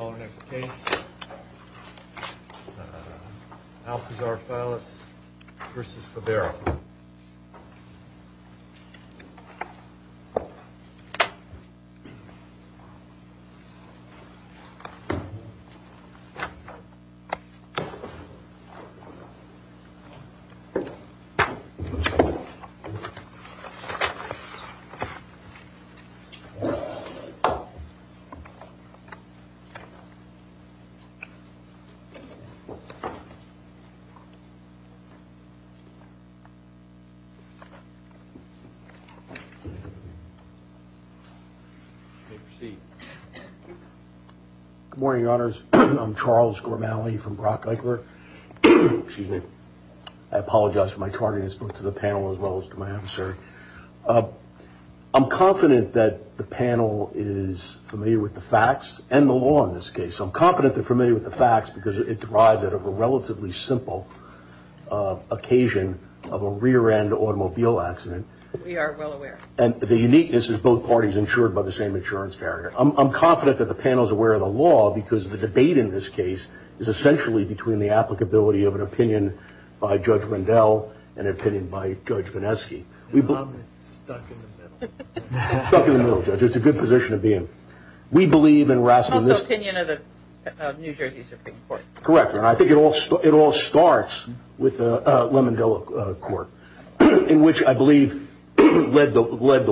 Our next case, Alpizar-Fallas v. Favero Good morning, Your Honors. I'm Charles Grimaldi from Brock-Eichler. I apologize for my tardiness to the panel as well as to my officer. I'm confident that the panel is familiar with the facts and the law in this case. I'm confident they're familiar with the facts because it derives out of a relatively simple occasion of a rear-end automobile accident. We are well aware. And the uniqueness is both parties insured by the same insurance carrier. I'm confident that the panel is aware of the law because the debate in this case is essentially between the applicability of an opinion by Judge Rendell and an opinion by Judge Vineski. And I'm stuck in the middle. Stuck in the middle, Judge. It's a good position to be in. We believe in Rasmussen. Also opinion of the New Jersey Supreme Court. Correct. And I think it all starts with the Lemondela Court, in which I believe led the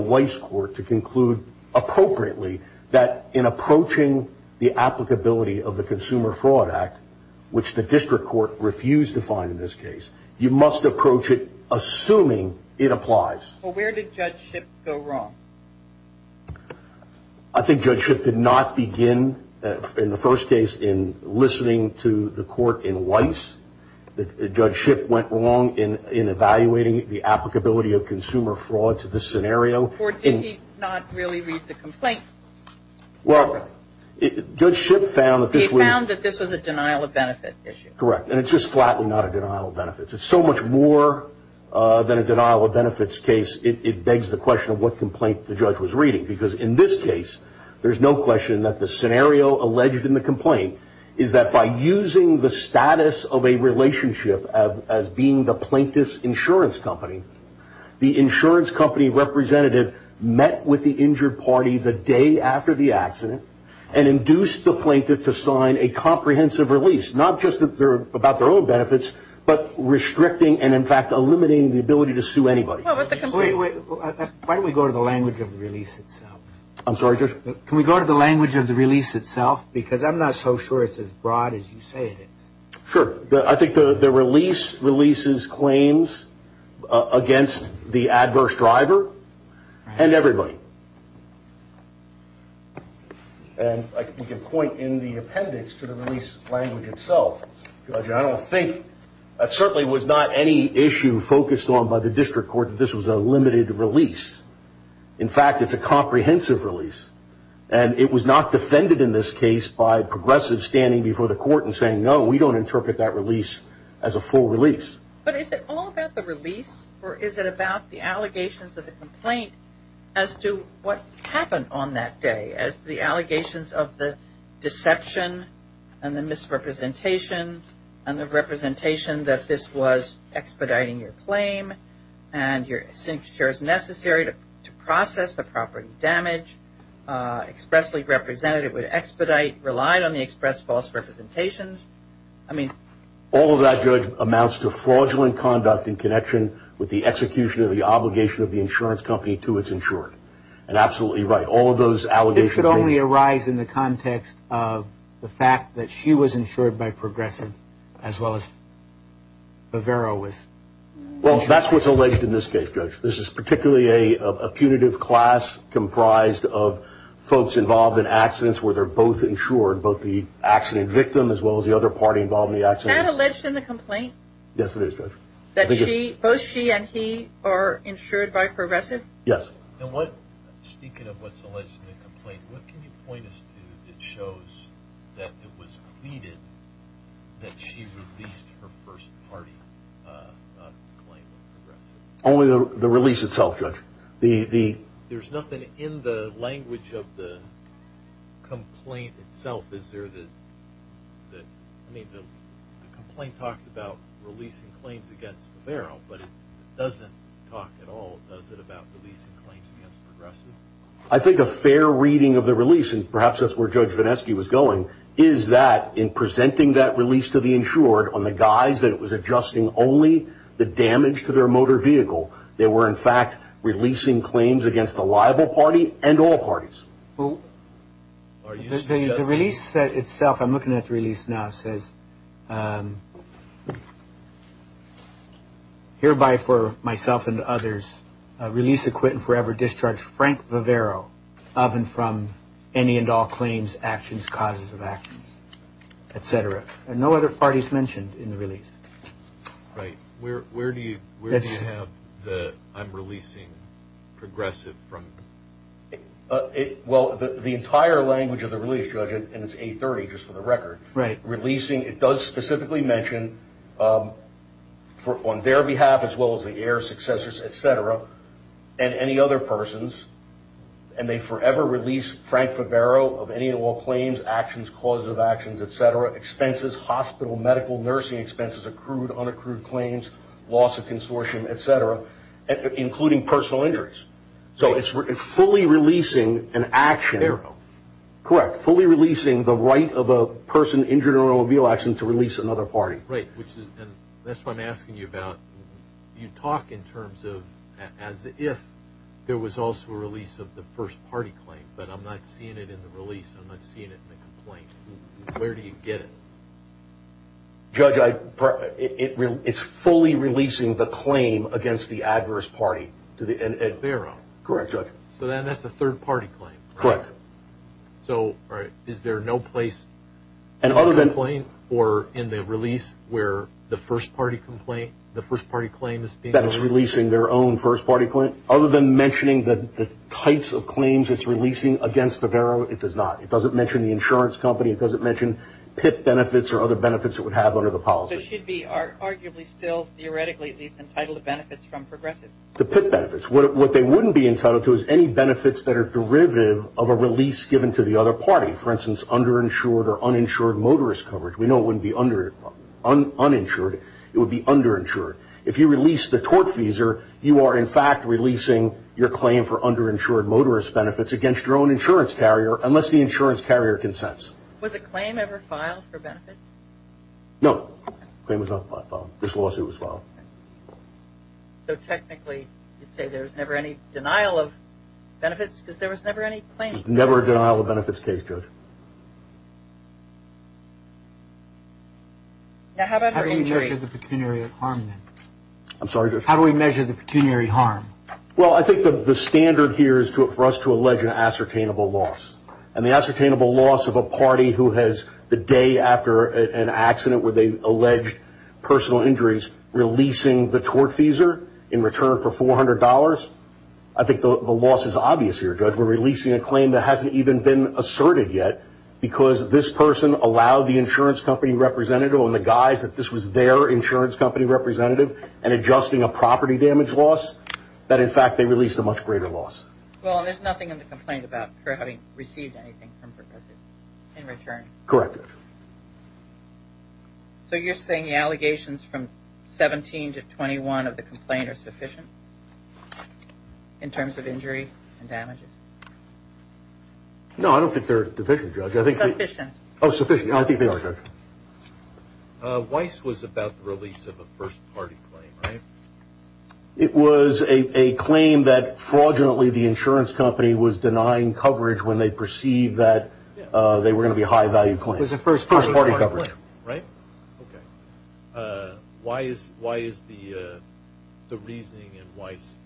Weiss Court to conclude appropriately that in approaching the applicability of the Consumer Fraud Act, which the District Court refused to find in this case, you must approach it assuming it applies. Well, where did Judge Schipp go wrong? I think Judge Schipp did not begin, in the first case, in listening to the court in Weiss. Judge Schipp went wrong in evaluating the applicability of consumer fraud to this scenario. Or did he not really read the complaint properly? Well, Judge Schipp found that this was a denial-of-benefit issue. Correct. And it's just flatly not a denial-of-benefits. It's so much more than a denial-of-benefits case, it begs the question of what complaint the judge was reading. Because in this case, there's no question that the scenario alleged in the complaint is that by using the status of a relationship as being the plaintiff's insurance company, the insurance company representative met with the injured party the day after the accident and induced the plaintiff to sign a comprehensive release. Not just about their own benefits, but restricting and in fact eliminating the ability to sue anybody. Wait, wait. Why don't we go to the language of the release itself? I'm sorry, Judge? Can we go to the language of the release itself? Because I'm not so sure it's as broad as you say it is. Sure. I think the release releases claims against the adverse driver and everybody. And we can point in the appendix to the release language itself. Judge, I don't think that certainly was not any issue focused on by the district court that this was a limited release. In fact, it's a comprehensive release. And it was not defended in this case by progressives standing before the court and saying, no, we don't interpret that release as a full release. But is it all about the release or is it about the allegations of the complaint as to what happened on that day as the allegations of the deception and the misrepresentation and the representation that this was expediting your claim and your signature is necessary to process the property damage, expressly represented it would expedite, relied on the express false representations. I mean... All of that, Judge, amounts to fraudulent conduct in connection with the execution of the obligation of the insurance company to its insured. And absolutely right. All of those allegations... This could only arise in the context of the fact that she was insured by progressives as well as Vivero was insured. Well, that's what's alleged in this case, Judge. This is particularly a punitive class comprised of folks involved in accidents where they're both insured, both the accident victim as well as the other party involved in the accident. Is that alleged in the complaint? Yes, it is, Judge. That she... Both she and he are insured by progressives? Yes. And what... Speaking of what's alleged in the complaint, what can you point us to that shows that it was pleaded that she released her first party claim of progressives? Only the release itself, Judge. The... There's nothing in the language of the complaint itself, is there, that... I mean, the complaint talks about releasing claims against Vivero, but it doesn't talk at all, does it, about releasing claims against progressives? I think a fair reading of the release, and perhaps that's where Judge Vineski was going, is that in presenting that release to the insured on the guise that it was adjusting only the damage to their motor vehicle, they were, in fact, releasing claims against the liable party and all parties. Who... Are you suggesting... The release itself, I'm looking at the release now, says, Hereby for myself and others, release acquit and forever discharge Frank Vivero of and from any and all claims, actions, causes of actions, et cetera. And no other parties mentioned in the release. Right. Where do you have the, I'm releasing progressive from? Well, the entire language of the release, Judge, and it's 830, just for the record, releasing, it does specifically mention on their behalf as well as the heir, successors, et cetera, and any other persons, and they forever release Frank Vivero of any and all expenses, hospital, medical, nursing expenses, accrued, unaccrued claims, loss of consortium, et cetera, including personal injuries. So it's fully releasing an action... Vivero. Correct. Fully releasing the right of a person injured in an automobile accident to release another party. Right. And that's what I'm asking you about. You talk in terms of as if there was also a release of the first party claim, but I'm not seeing it in the release. I'm not seeing it in the complaint. Where do you get it? Judge, it's fully releasing the claim against the adverse party. Vivero. Correct, Judge. So then that's a third party claim. Correct. So is there no place in the complaint or in the release where the first party complaint, the first party claim is being released? That it's releasing their own first party claim. Other than mentioning the types of claims it's releasing against Vivero, it does not. It doesn't mention the insurance company. It doesn't mention PIP benefits or other benefits it would have under the policy. So it should be arguably still theoretically at least entitled to benefits from Progressive. The PIP benefits. What they wouldn't be entitled to is any benefits that are derivative of a release given to the other party. For instance, underinsured or uninsured motorist coverage. We know it wouldn't be uninsured. It would be underinsured. If you release the tortfeasor, you are in fact releasing your claim for underinsured motorist benefits against your own insurance carrier. Unless the insurance carrier consents. Was a claim ever filed for benefits? No. The claim was not filed. This lawsuit was filed. So technically you'd say there was never any denial of benefits because there was never any claim? There was never a denial of benefits case, Judge. Now how about for injury? How do we measure the pecuniary harm then? I'm sorry, Judge? How do we measure the pecuniary harm? Well, I think the standard here is for us to allege an ascertainable loss. And the ascertainable loss of a party who has, the day after an accident where they alleged personal injuries, releasing the tortfeasor in return for $400. I think the loss is obvious here, Judge. We're releasing a claim that hasn't even been asserted yet because this person allowed the insurance company representative on the guise that this was their insurance company representative and adjusting a property damage loss, that in fact they released a much greater loss. Well, and there's nothing in the complaint about her having received anything in return? Correct, Judge. So you're saying the allegations from 17 to 21 of the complaint are sufficient in terms of injury and damages? No, I don't think they're deficient, Judge. They're sufficient. Oh, sufficient. I think they are, Judge. Weiss was about the release of a first-party claim, right? It was a claim that fraudulently the insurance company was denying coverage when they perceived that they were going to be high-value claims. It was a first-party claim, right? Okay. Why is the reasoning in Weiss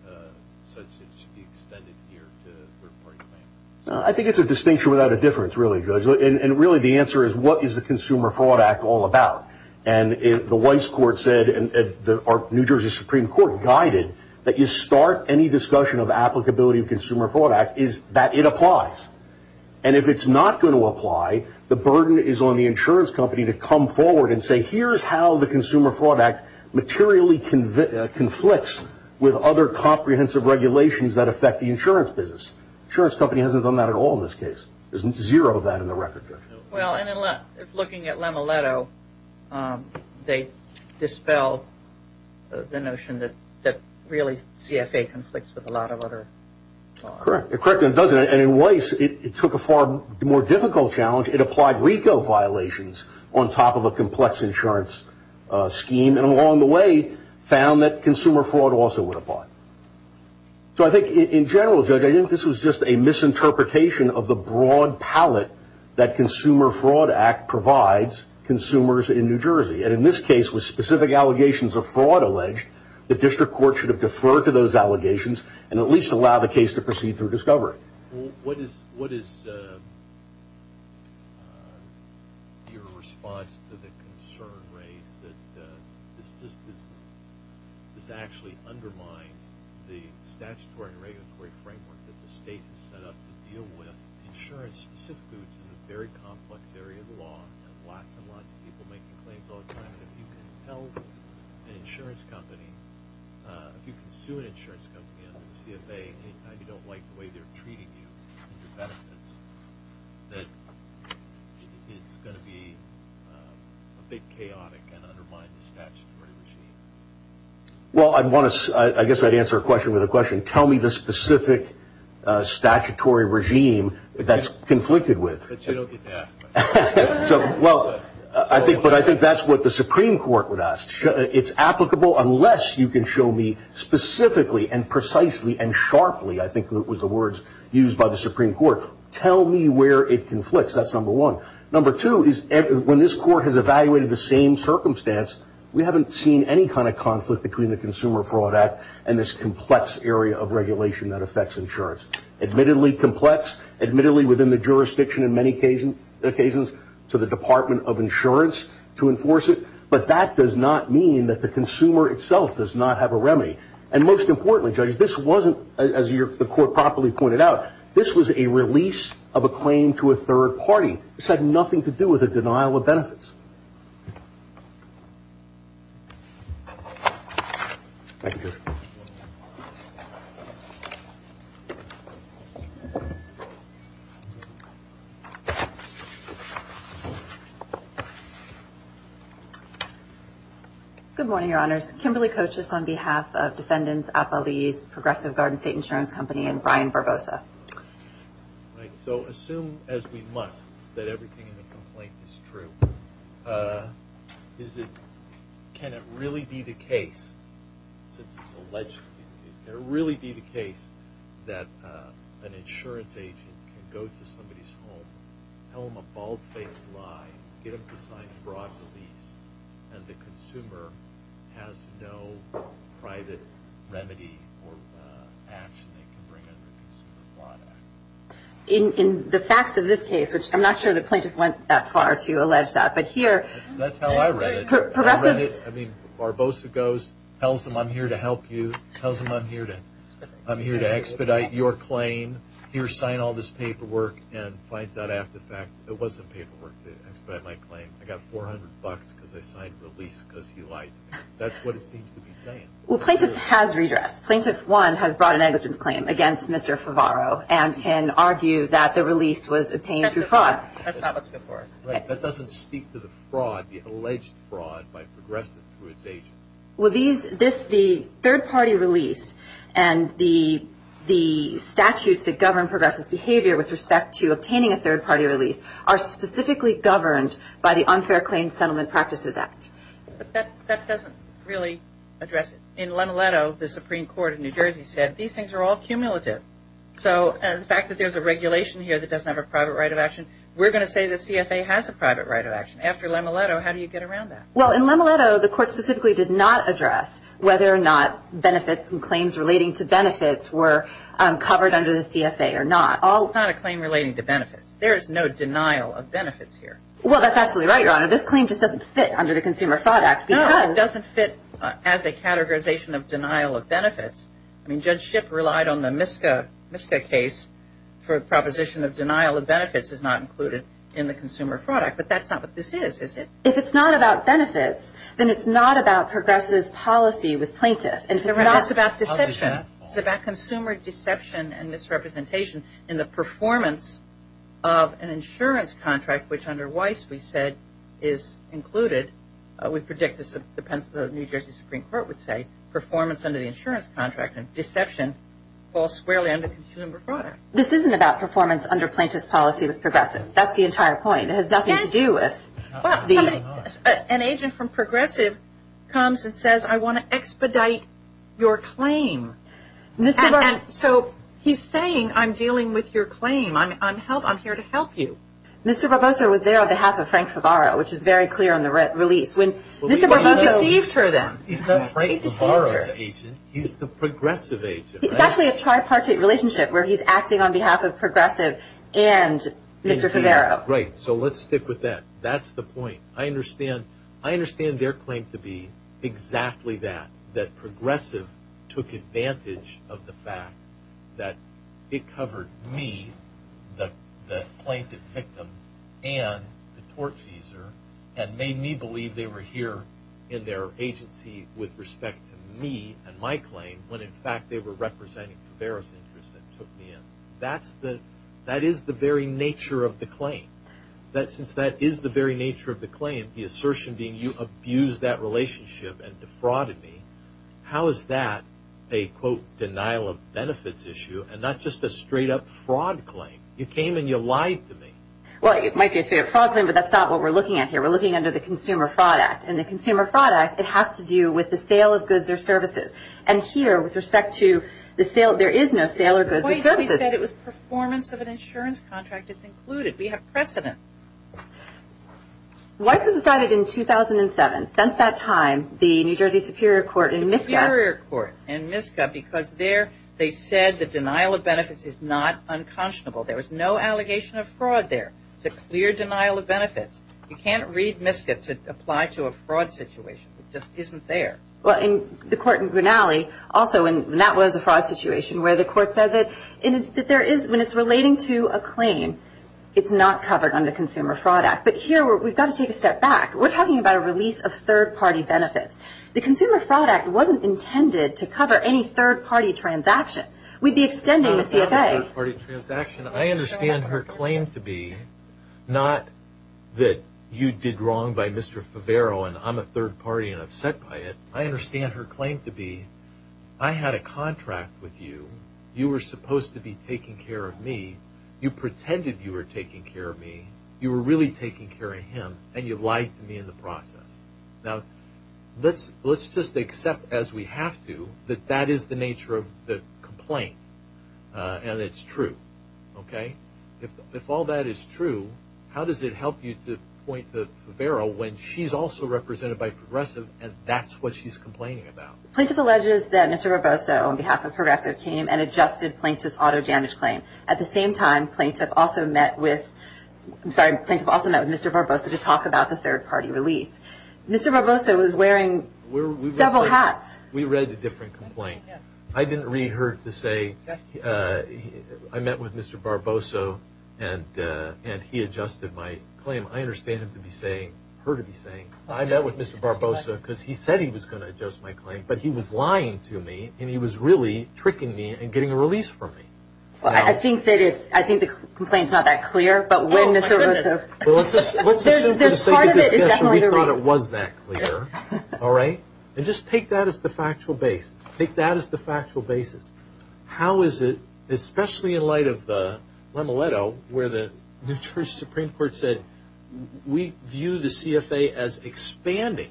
such that it should be extended here to a third-party claim? I think it's a distinction without a difference, really, Judge. And really, the answer is, what is the Consumer Fraud Act all about? And the Weiss court said, or New Jersey Supreme Court guided, that you start any discussion of applicability of the Consumer Fraud Act is that it applies. And if it's not going to apply, the burden is on the insurance company to come forward and say, here's how the Consumer Fraud Act materially conflicts with other comprehensive regulations that affect the insurance business. The insurance company hasn't done that at all in this case. There's zero of that in the record, Judge. Well, and if looking at Lama Leto, they dispel the notion that really CFA conflicts with a lot of other... Correct. Correct. And it doesn't. And in Weiss, it took a far more difficult challenge. It applied RICO violations on top of a complex insurance scheme, and along the way, found that consumer fraud also would apply. So I think, in general, Judge, I think this was just a misinterpretation of the broad palette that Consumer Fraud Act provides consumers in New Jersey. And in this case, with specific allegations of fraud alleged, the district court should have deferred to those allegations, and at least allowed the case to proceed through discovery. What is your response to the concern raised that this actually undermines the statutory and regulatory framework that the state has set up to deal with insurance-specific goods in a very complex area of the law, and lots and lots of people making claims all the time. And if you can tell an insurance company, if you can sue an insurance company under the guise of providing you with benefits, that it's going to be a bit chaotic and undermine the statutory regime. Well, I guess I'd answer a question with a question. Tell me the specific statutory regime that's conflicted with. But you don't get to ask much. But I think that's what the Supreme Court would ask. It's applicable unless you can show me specifically, and precisely, and sharply, I think was the words used by the Supreme Court, tell me where it conflicts. That's number one. Number two is when this court has evaluated the same circumstance, we haven't seen any kind of conflict between the Consumer Fraud Act and this complex area of regulation that affects insurance. Admittedly complex, admittedly within the jurisdiction in many occasions to the Department of Insurance to enforce it, but that does not mean that the consumer itself does not have a remedy. And most importantly, Judge, this wasn't, as the court properly pointed out, this was a release of a claim to a third party. This had nothing to do with a denial of benefits. Good morning, Your Honors. Kimberly Cochis on behalf of Defendants, Applebee's, Progressive Garden State Insurance Company, and Brian Barbosa. Right. So assume as we must that everything in the complaint is true. Is it, can it really be the case, since it's alleged, can it really be the case that an insurance agent can go to somebody's home, tell them a bald-faced lie, get them to sign a fraud release, and the consumer has no private remedy or action they can bring under the Consumer Fraud Act? In the facts of this case, which I'm not sure the plaintiff went that far to allege that, but here... That's how I read it. I read it, I mean, Barbosa goes, tells them I'm here to help you, tells them I'm here to expedite your claim, here sign all this paperwork, and finds out after the fact it wasn't paperwork to expedite my claim. I got 400 bucks because I signed the release because he lied to me. That's what it seems to be saying. Well, plaintiff has redressed. Plaintiff, one, has brought an negligence claim against Mr. Favaro and can argue that the release was obtained through fraud. That's not what's good for us. Right. That doesn't speak to the fraud, the alleged fraud by Progressive through its agent. Well, the third-party release and the statutes that govern Progressive's behavior with respect to obtaining a third-party release are specifically governed by the Unfair Claims Settlement Practices Act. But that doesn't really address it. In Lemoletto, the Supreme Court of New Jersey said, these things are all cumulative. So the fact that there's a regulation here that doesn't have a private right of action, we're going to say the CFA has a private right of action. After Lemoletto, how do you get around that? Well, in Lemoletto, the court specifically did not address whether or not benefits and claims relating to benefits were covered under the CFA or not. It's not a claim relating to benefits. There is no denial of benefits here. Well, that's absolutely right, Your Honor. This claim just doesn't fit under the Consumer Fraud Act because... No, it doesn't fit as a categorization of denial of benefits. I mean, Judge Schipp relied on the Miska case for a proposition of denial of benefits is not included in the Consumer Fraud Act. But that's not what this is, is it? If it's not about benefits, then it's not about Progressive's policy with plaintiff. And it's not about deception. It's about consumer deception and misrepresentation in the performance of an insurance contract, which under Weiss, we said, is included. We predict, as the New Jersey Supreme Court would say, performance under the insurance contract, and deception falls squarely under Consumer Fraud Act. This isn't about performance under Plaintiff's policy with Progressive. That's the entire point. It has nothing to do with the... And so, he's saying, I'm dealing with your claim, I'm here to help you. Mr. Barbosa was there on behalf of Frank Favaro, which is very clear on the release. When Mr. Barbosa... He's not Frank Favaro's agent, he's the Progressive agent. It's actually a tripartite relationship where he's acting on behalf of Progressive and Mr. Favaro. Right. So let's stick with that. That's the point. I understand their claim to be exactly that, that Progressive took advantage of the fact that it covered me, the plaintiff victim, and the tort cheeser, and made me believe they were here in their agency with respect to me and my claim, when in fact they were representing Favaro's interests and took me in. That is the very nature of the claim. Since that is the very nature of the claim, the assertion being you abused that relationship and defrauded me, how is that a quote, denial of benefits issue and not just a straight up fraud claim? You came and you lied to me. Well, it might be a straight up fraud claim, but that's not what we're looking at here. We're looking under the Consumer Fraud Act, and the Consumer Fraud Act, it has to do with the sale of goods or services. And here, with respect to the sale, there is no sale of goods or services. Why is it that it was performance of an insurance contract that's included? We have precedent. Weiss was decided in 2007. Since that time, the New Jersey Superior Court in MISCA... The Superior Court in MISCA, because there they said the denial of benefits is not unconscionable. There was no allegation of fraud there. It's a clear denial of benefits. You can't read MISCA to apply to a fraud situation. It just isn't there. Well, in the court in Grinnelly, also, and that was a fraud situation where the court It's a fraud claim. It's a fraud claim. It's a fraud claim. It's a fraud claim. It's not covered under the Consumer Fraud Act, but here, we've got to take a step back. We're talking about a release of third-party benefits. The Consumer Fraud Act wasn't intended to cover any third-party transaction. We'd be extending the CFA. It's not a third-party transaction. I understand her claim to be not that you did wrong by Mr. Favaro and I'm a third party and upset by it. I understand her claim to be I had a contract with you. You were supposed to be taking care of me. You pretended you were taking care of me. You were really taking care of him, and you lied to me in the process. Now, let's just accept, as we have to, that that is the nature of the complaint, and it's true. Okay? If all that is true, how does it help you to point to Favaro when she's also represented by Progressive and that's what she's complaining about? Plaintiff alleges that Mr. Roboso, on behalf of Progressive, came and adjusted Plaintiff's auto damage claim. At the same time, Plaintiff also met with Mr. Roboso to talk about the third-party release. Mr. Roboso was wearing several hats. We read a different complaint. I didn't read her to say I met with Mr. Roboso, and he adjusted my claim. I understand her to be saying I met with Mr. Roboso because he said he was going to adjust my claim, but he was lying to me, and he was really tricking me and getting a release from me. Well, I think that the complaint is not that clear, but when Mr. Roboso Well, let's assume for the sake of discussion, we thought it was that clear. All right? And just take that as the factual basis. Take that as the factual basis. How is it, especially in light of the Lemeletto, where the New Jersey Supreme Court said, we view the CFA as expanding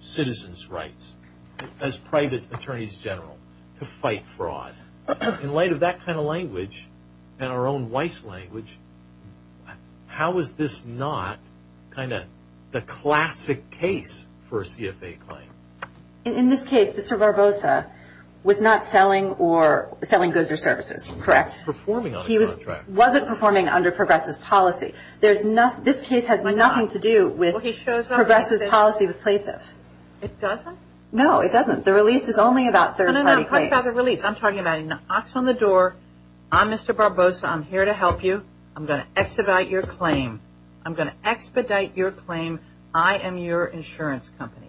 citizens' rights as private attorneys general to fight fraud. In light of that kind of language and our own Weiss language, how is this not kind of the classic case for a CFA claim? In this case, Mr. Roboso was not selling goods or services, correct? He wasn't performing under Progressive's policy. This case has nothing to do with Progressive's policy with Plaintiff. It doesn't? The release is only about third-party claims. I'm talking about a release. I'm talking about he knocks on the door. I'm Mr. Roboso. I'm here to help you. I'm going to expedite your claim. I'm going to expedite your claim. I am your insurance company.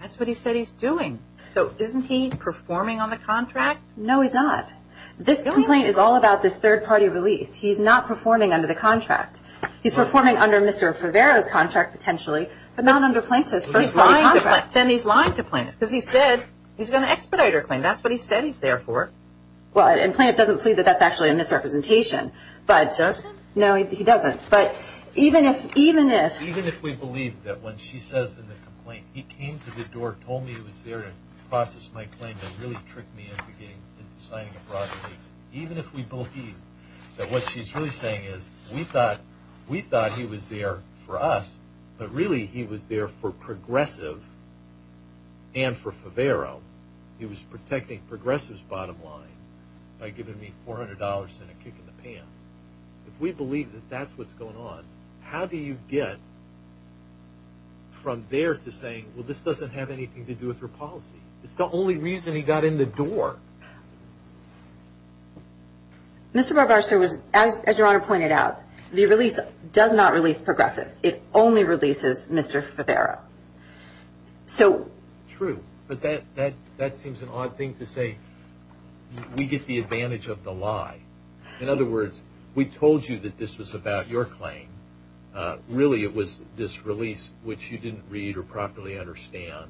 That's what he said he's doing. So isn't he performing on the contract? No, he's not. This complaint is all about this third-party release. He's not performing under the contract. He's performing under Mr. Favaro's contract potentially, but not under Plaintiff's first-party contract. Then he's lying to Plaintiff. Because he said he's going to expedite her claim. That's what he said he's there for. And Plaintiff doesn't plead that that's actually a misrepresentation. He doesn't? No, he doesn't. But even if we believe that when she says in the complaint, he came to the door, told me he was there to process my claim, and really tricked me into signing a fraud release, even if we believe that what she's really saying is we thought he was there for us, but really he was there for Progressive and for Favaro. He was protecting Progressive's bottom line by giving me $400 and a kick in the pants. If we believe that that's what's going on, how do you get from there to saying, well, this doesn't have anything to do with her policy? It's the only reason he got in the door. Mr. Barbaro, as Your Honor pointed out, the release does not release Progressive. It only releases Mr. Favaro. True, but that seems an odd thing to say. We get the advantage of the lie. In other words, we told you that this was about your claim. Really it was this release, which you didn't read or properly understand,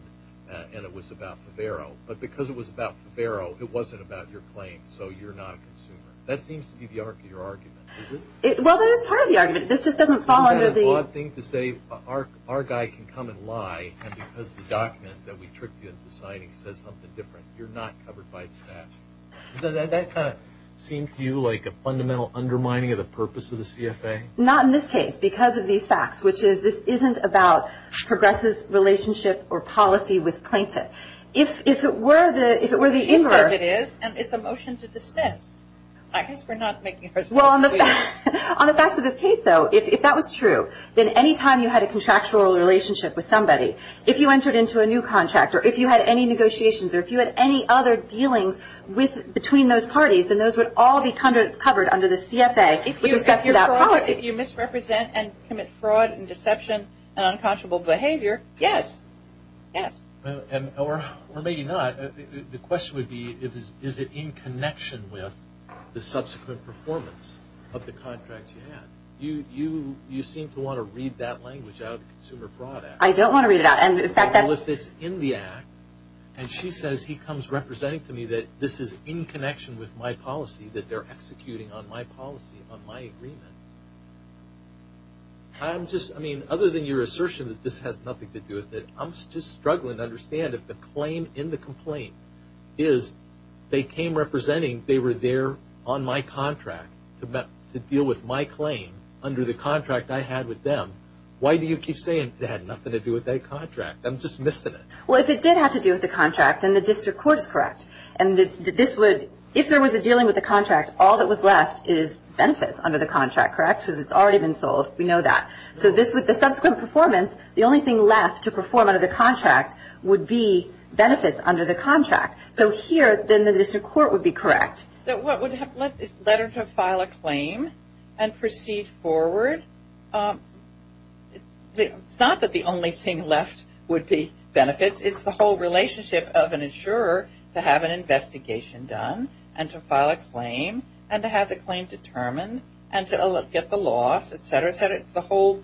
and it was about Favaro. But because it was about Favaro, it wasn't about your claim, so you're not a consumer. That seems to be your argument, is it? Well, that is part of the argument. Isn't that an odd thing to say? Our guy can come and lie, and because of the document that we tricked you into signing says something different. You're not covered by the statute. Doesn't that kind of seem to you like a fundamental undermining of the purpose of the CFA? Not in this case, because of these facts, which is this isn't about Progressive's relationship or policy with Plaintiff. If it were the inverse— He says it is, and it's a motion to dismiss. I guess we're not making ourselves clear. Well, on the facts of this case, though, if that was true, then any time you had a contractual relationship with somebody, if you entered into a new contract or if you had any negotiations or if you had any other dealings between those parties, then those would all be covered under the CFA with respect to that policy. If you misrepresent and commit fraud and deception and unconscionable behavior, yes. Yes. Or maybe not. The question would be, is it in connection with the subsequent performance of the contract you had? You seem to want to read that language out of the Consumer Fraud Act. I don't want to read it out. Well, if it's in the act, and she says he comes representing to me that this is in connection with my policy, that they're executing on my policy, on my agreement, I'm just— I don't understand if the claim in the complaint is they came representing they were there on my contract to deal with my claim under the contract I had with them. Why do you keep saying it had nothing to do with that contract? I'm just missing it. Well, if it did have to do with the contract, then the district court is correct. And this would—if there was a dealing with the contract, all that was left is benefits under the contract, correct? Because it's already been sold. We know that. So this, with the subsequent performance, the only thing left to perform under the contract would be benefits under the contract. So here, then, the district court would be correct. That what would have left is let her to file a claim and proceed forward. It's not that the only thing left would be benefits. It's the whole relationship of an insurer to have an investigation done and to file a claim and to have the claim determined and to get the loss, et cetera, et cetera. It's the whole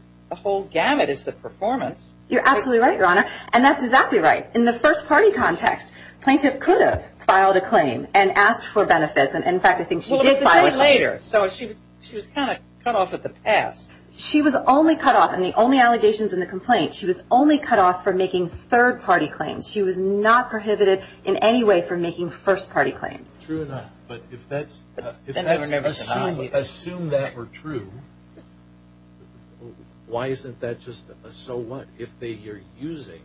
gamut. It's the performance. You're absolutely right, Your Honor. And that's exactly right. In the first-party context, plaintiff could have filed a claim and asked for benefits. And, in fact, I think she did file a claim. So she was kind of cut off at the pass. She was only cut off in the only allegations in the complaint. She was only cut off for making third-party claims. She was not prohibited in any way for making first-party claims. True enough. But if that's assumed that were true, why isn't that just a so what? If they are using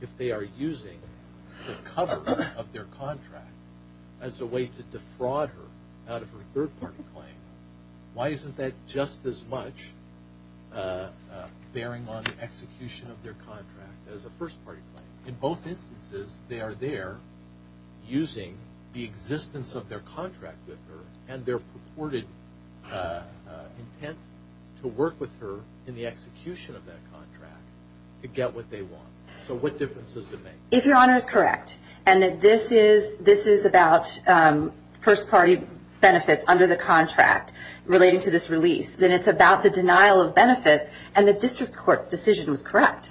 the cover of their contract as a way to defraud her out of her third-party claim, why isn't that just as much bearing on the execution of their contract as a first-party claim? In both instances, they are there using the existence of their contract with her and their purported intent to work with her in the execution of that contract to get what they want. So what difference does it make? If Your Honor is correct and that this is about first-party benefits under the contract relating to this release, then it's about the denial of benefits and the district court decision was correct.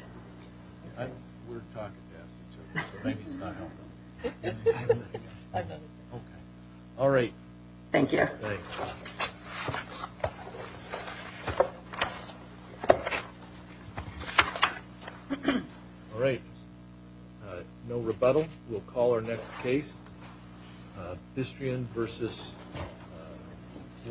We're talking to us, so maybe it's not helpful. All right. Thank you. All right. No rebuttal. We'll call our next case. Bistrian versus Warden Troy.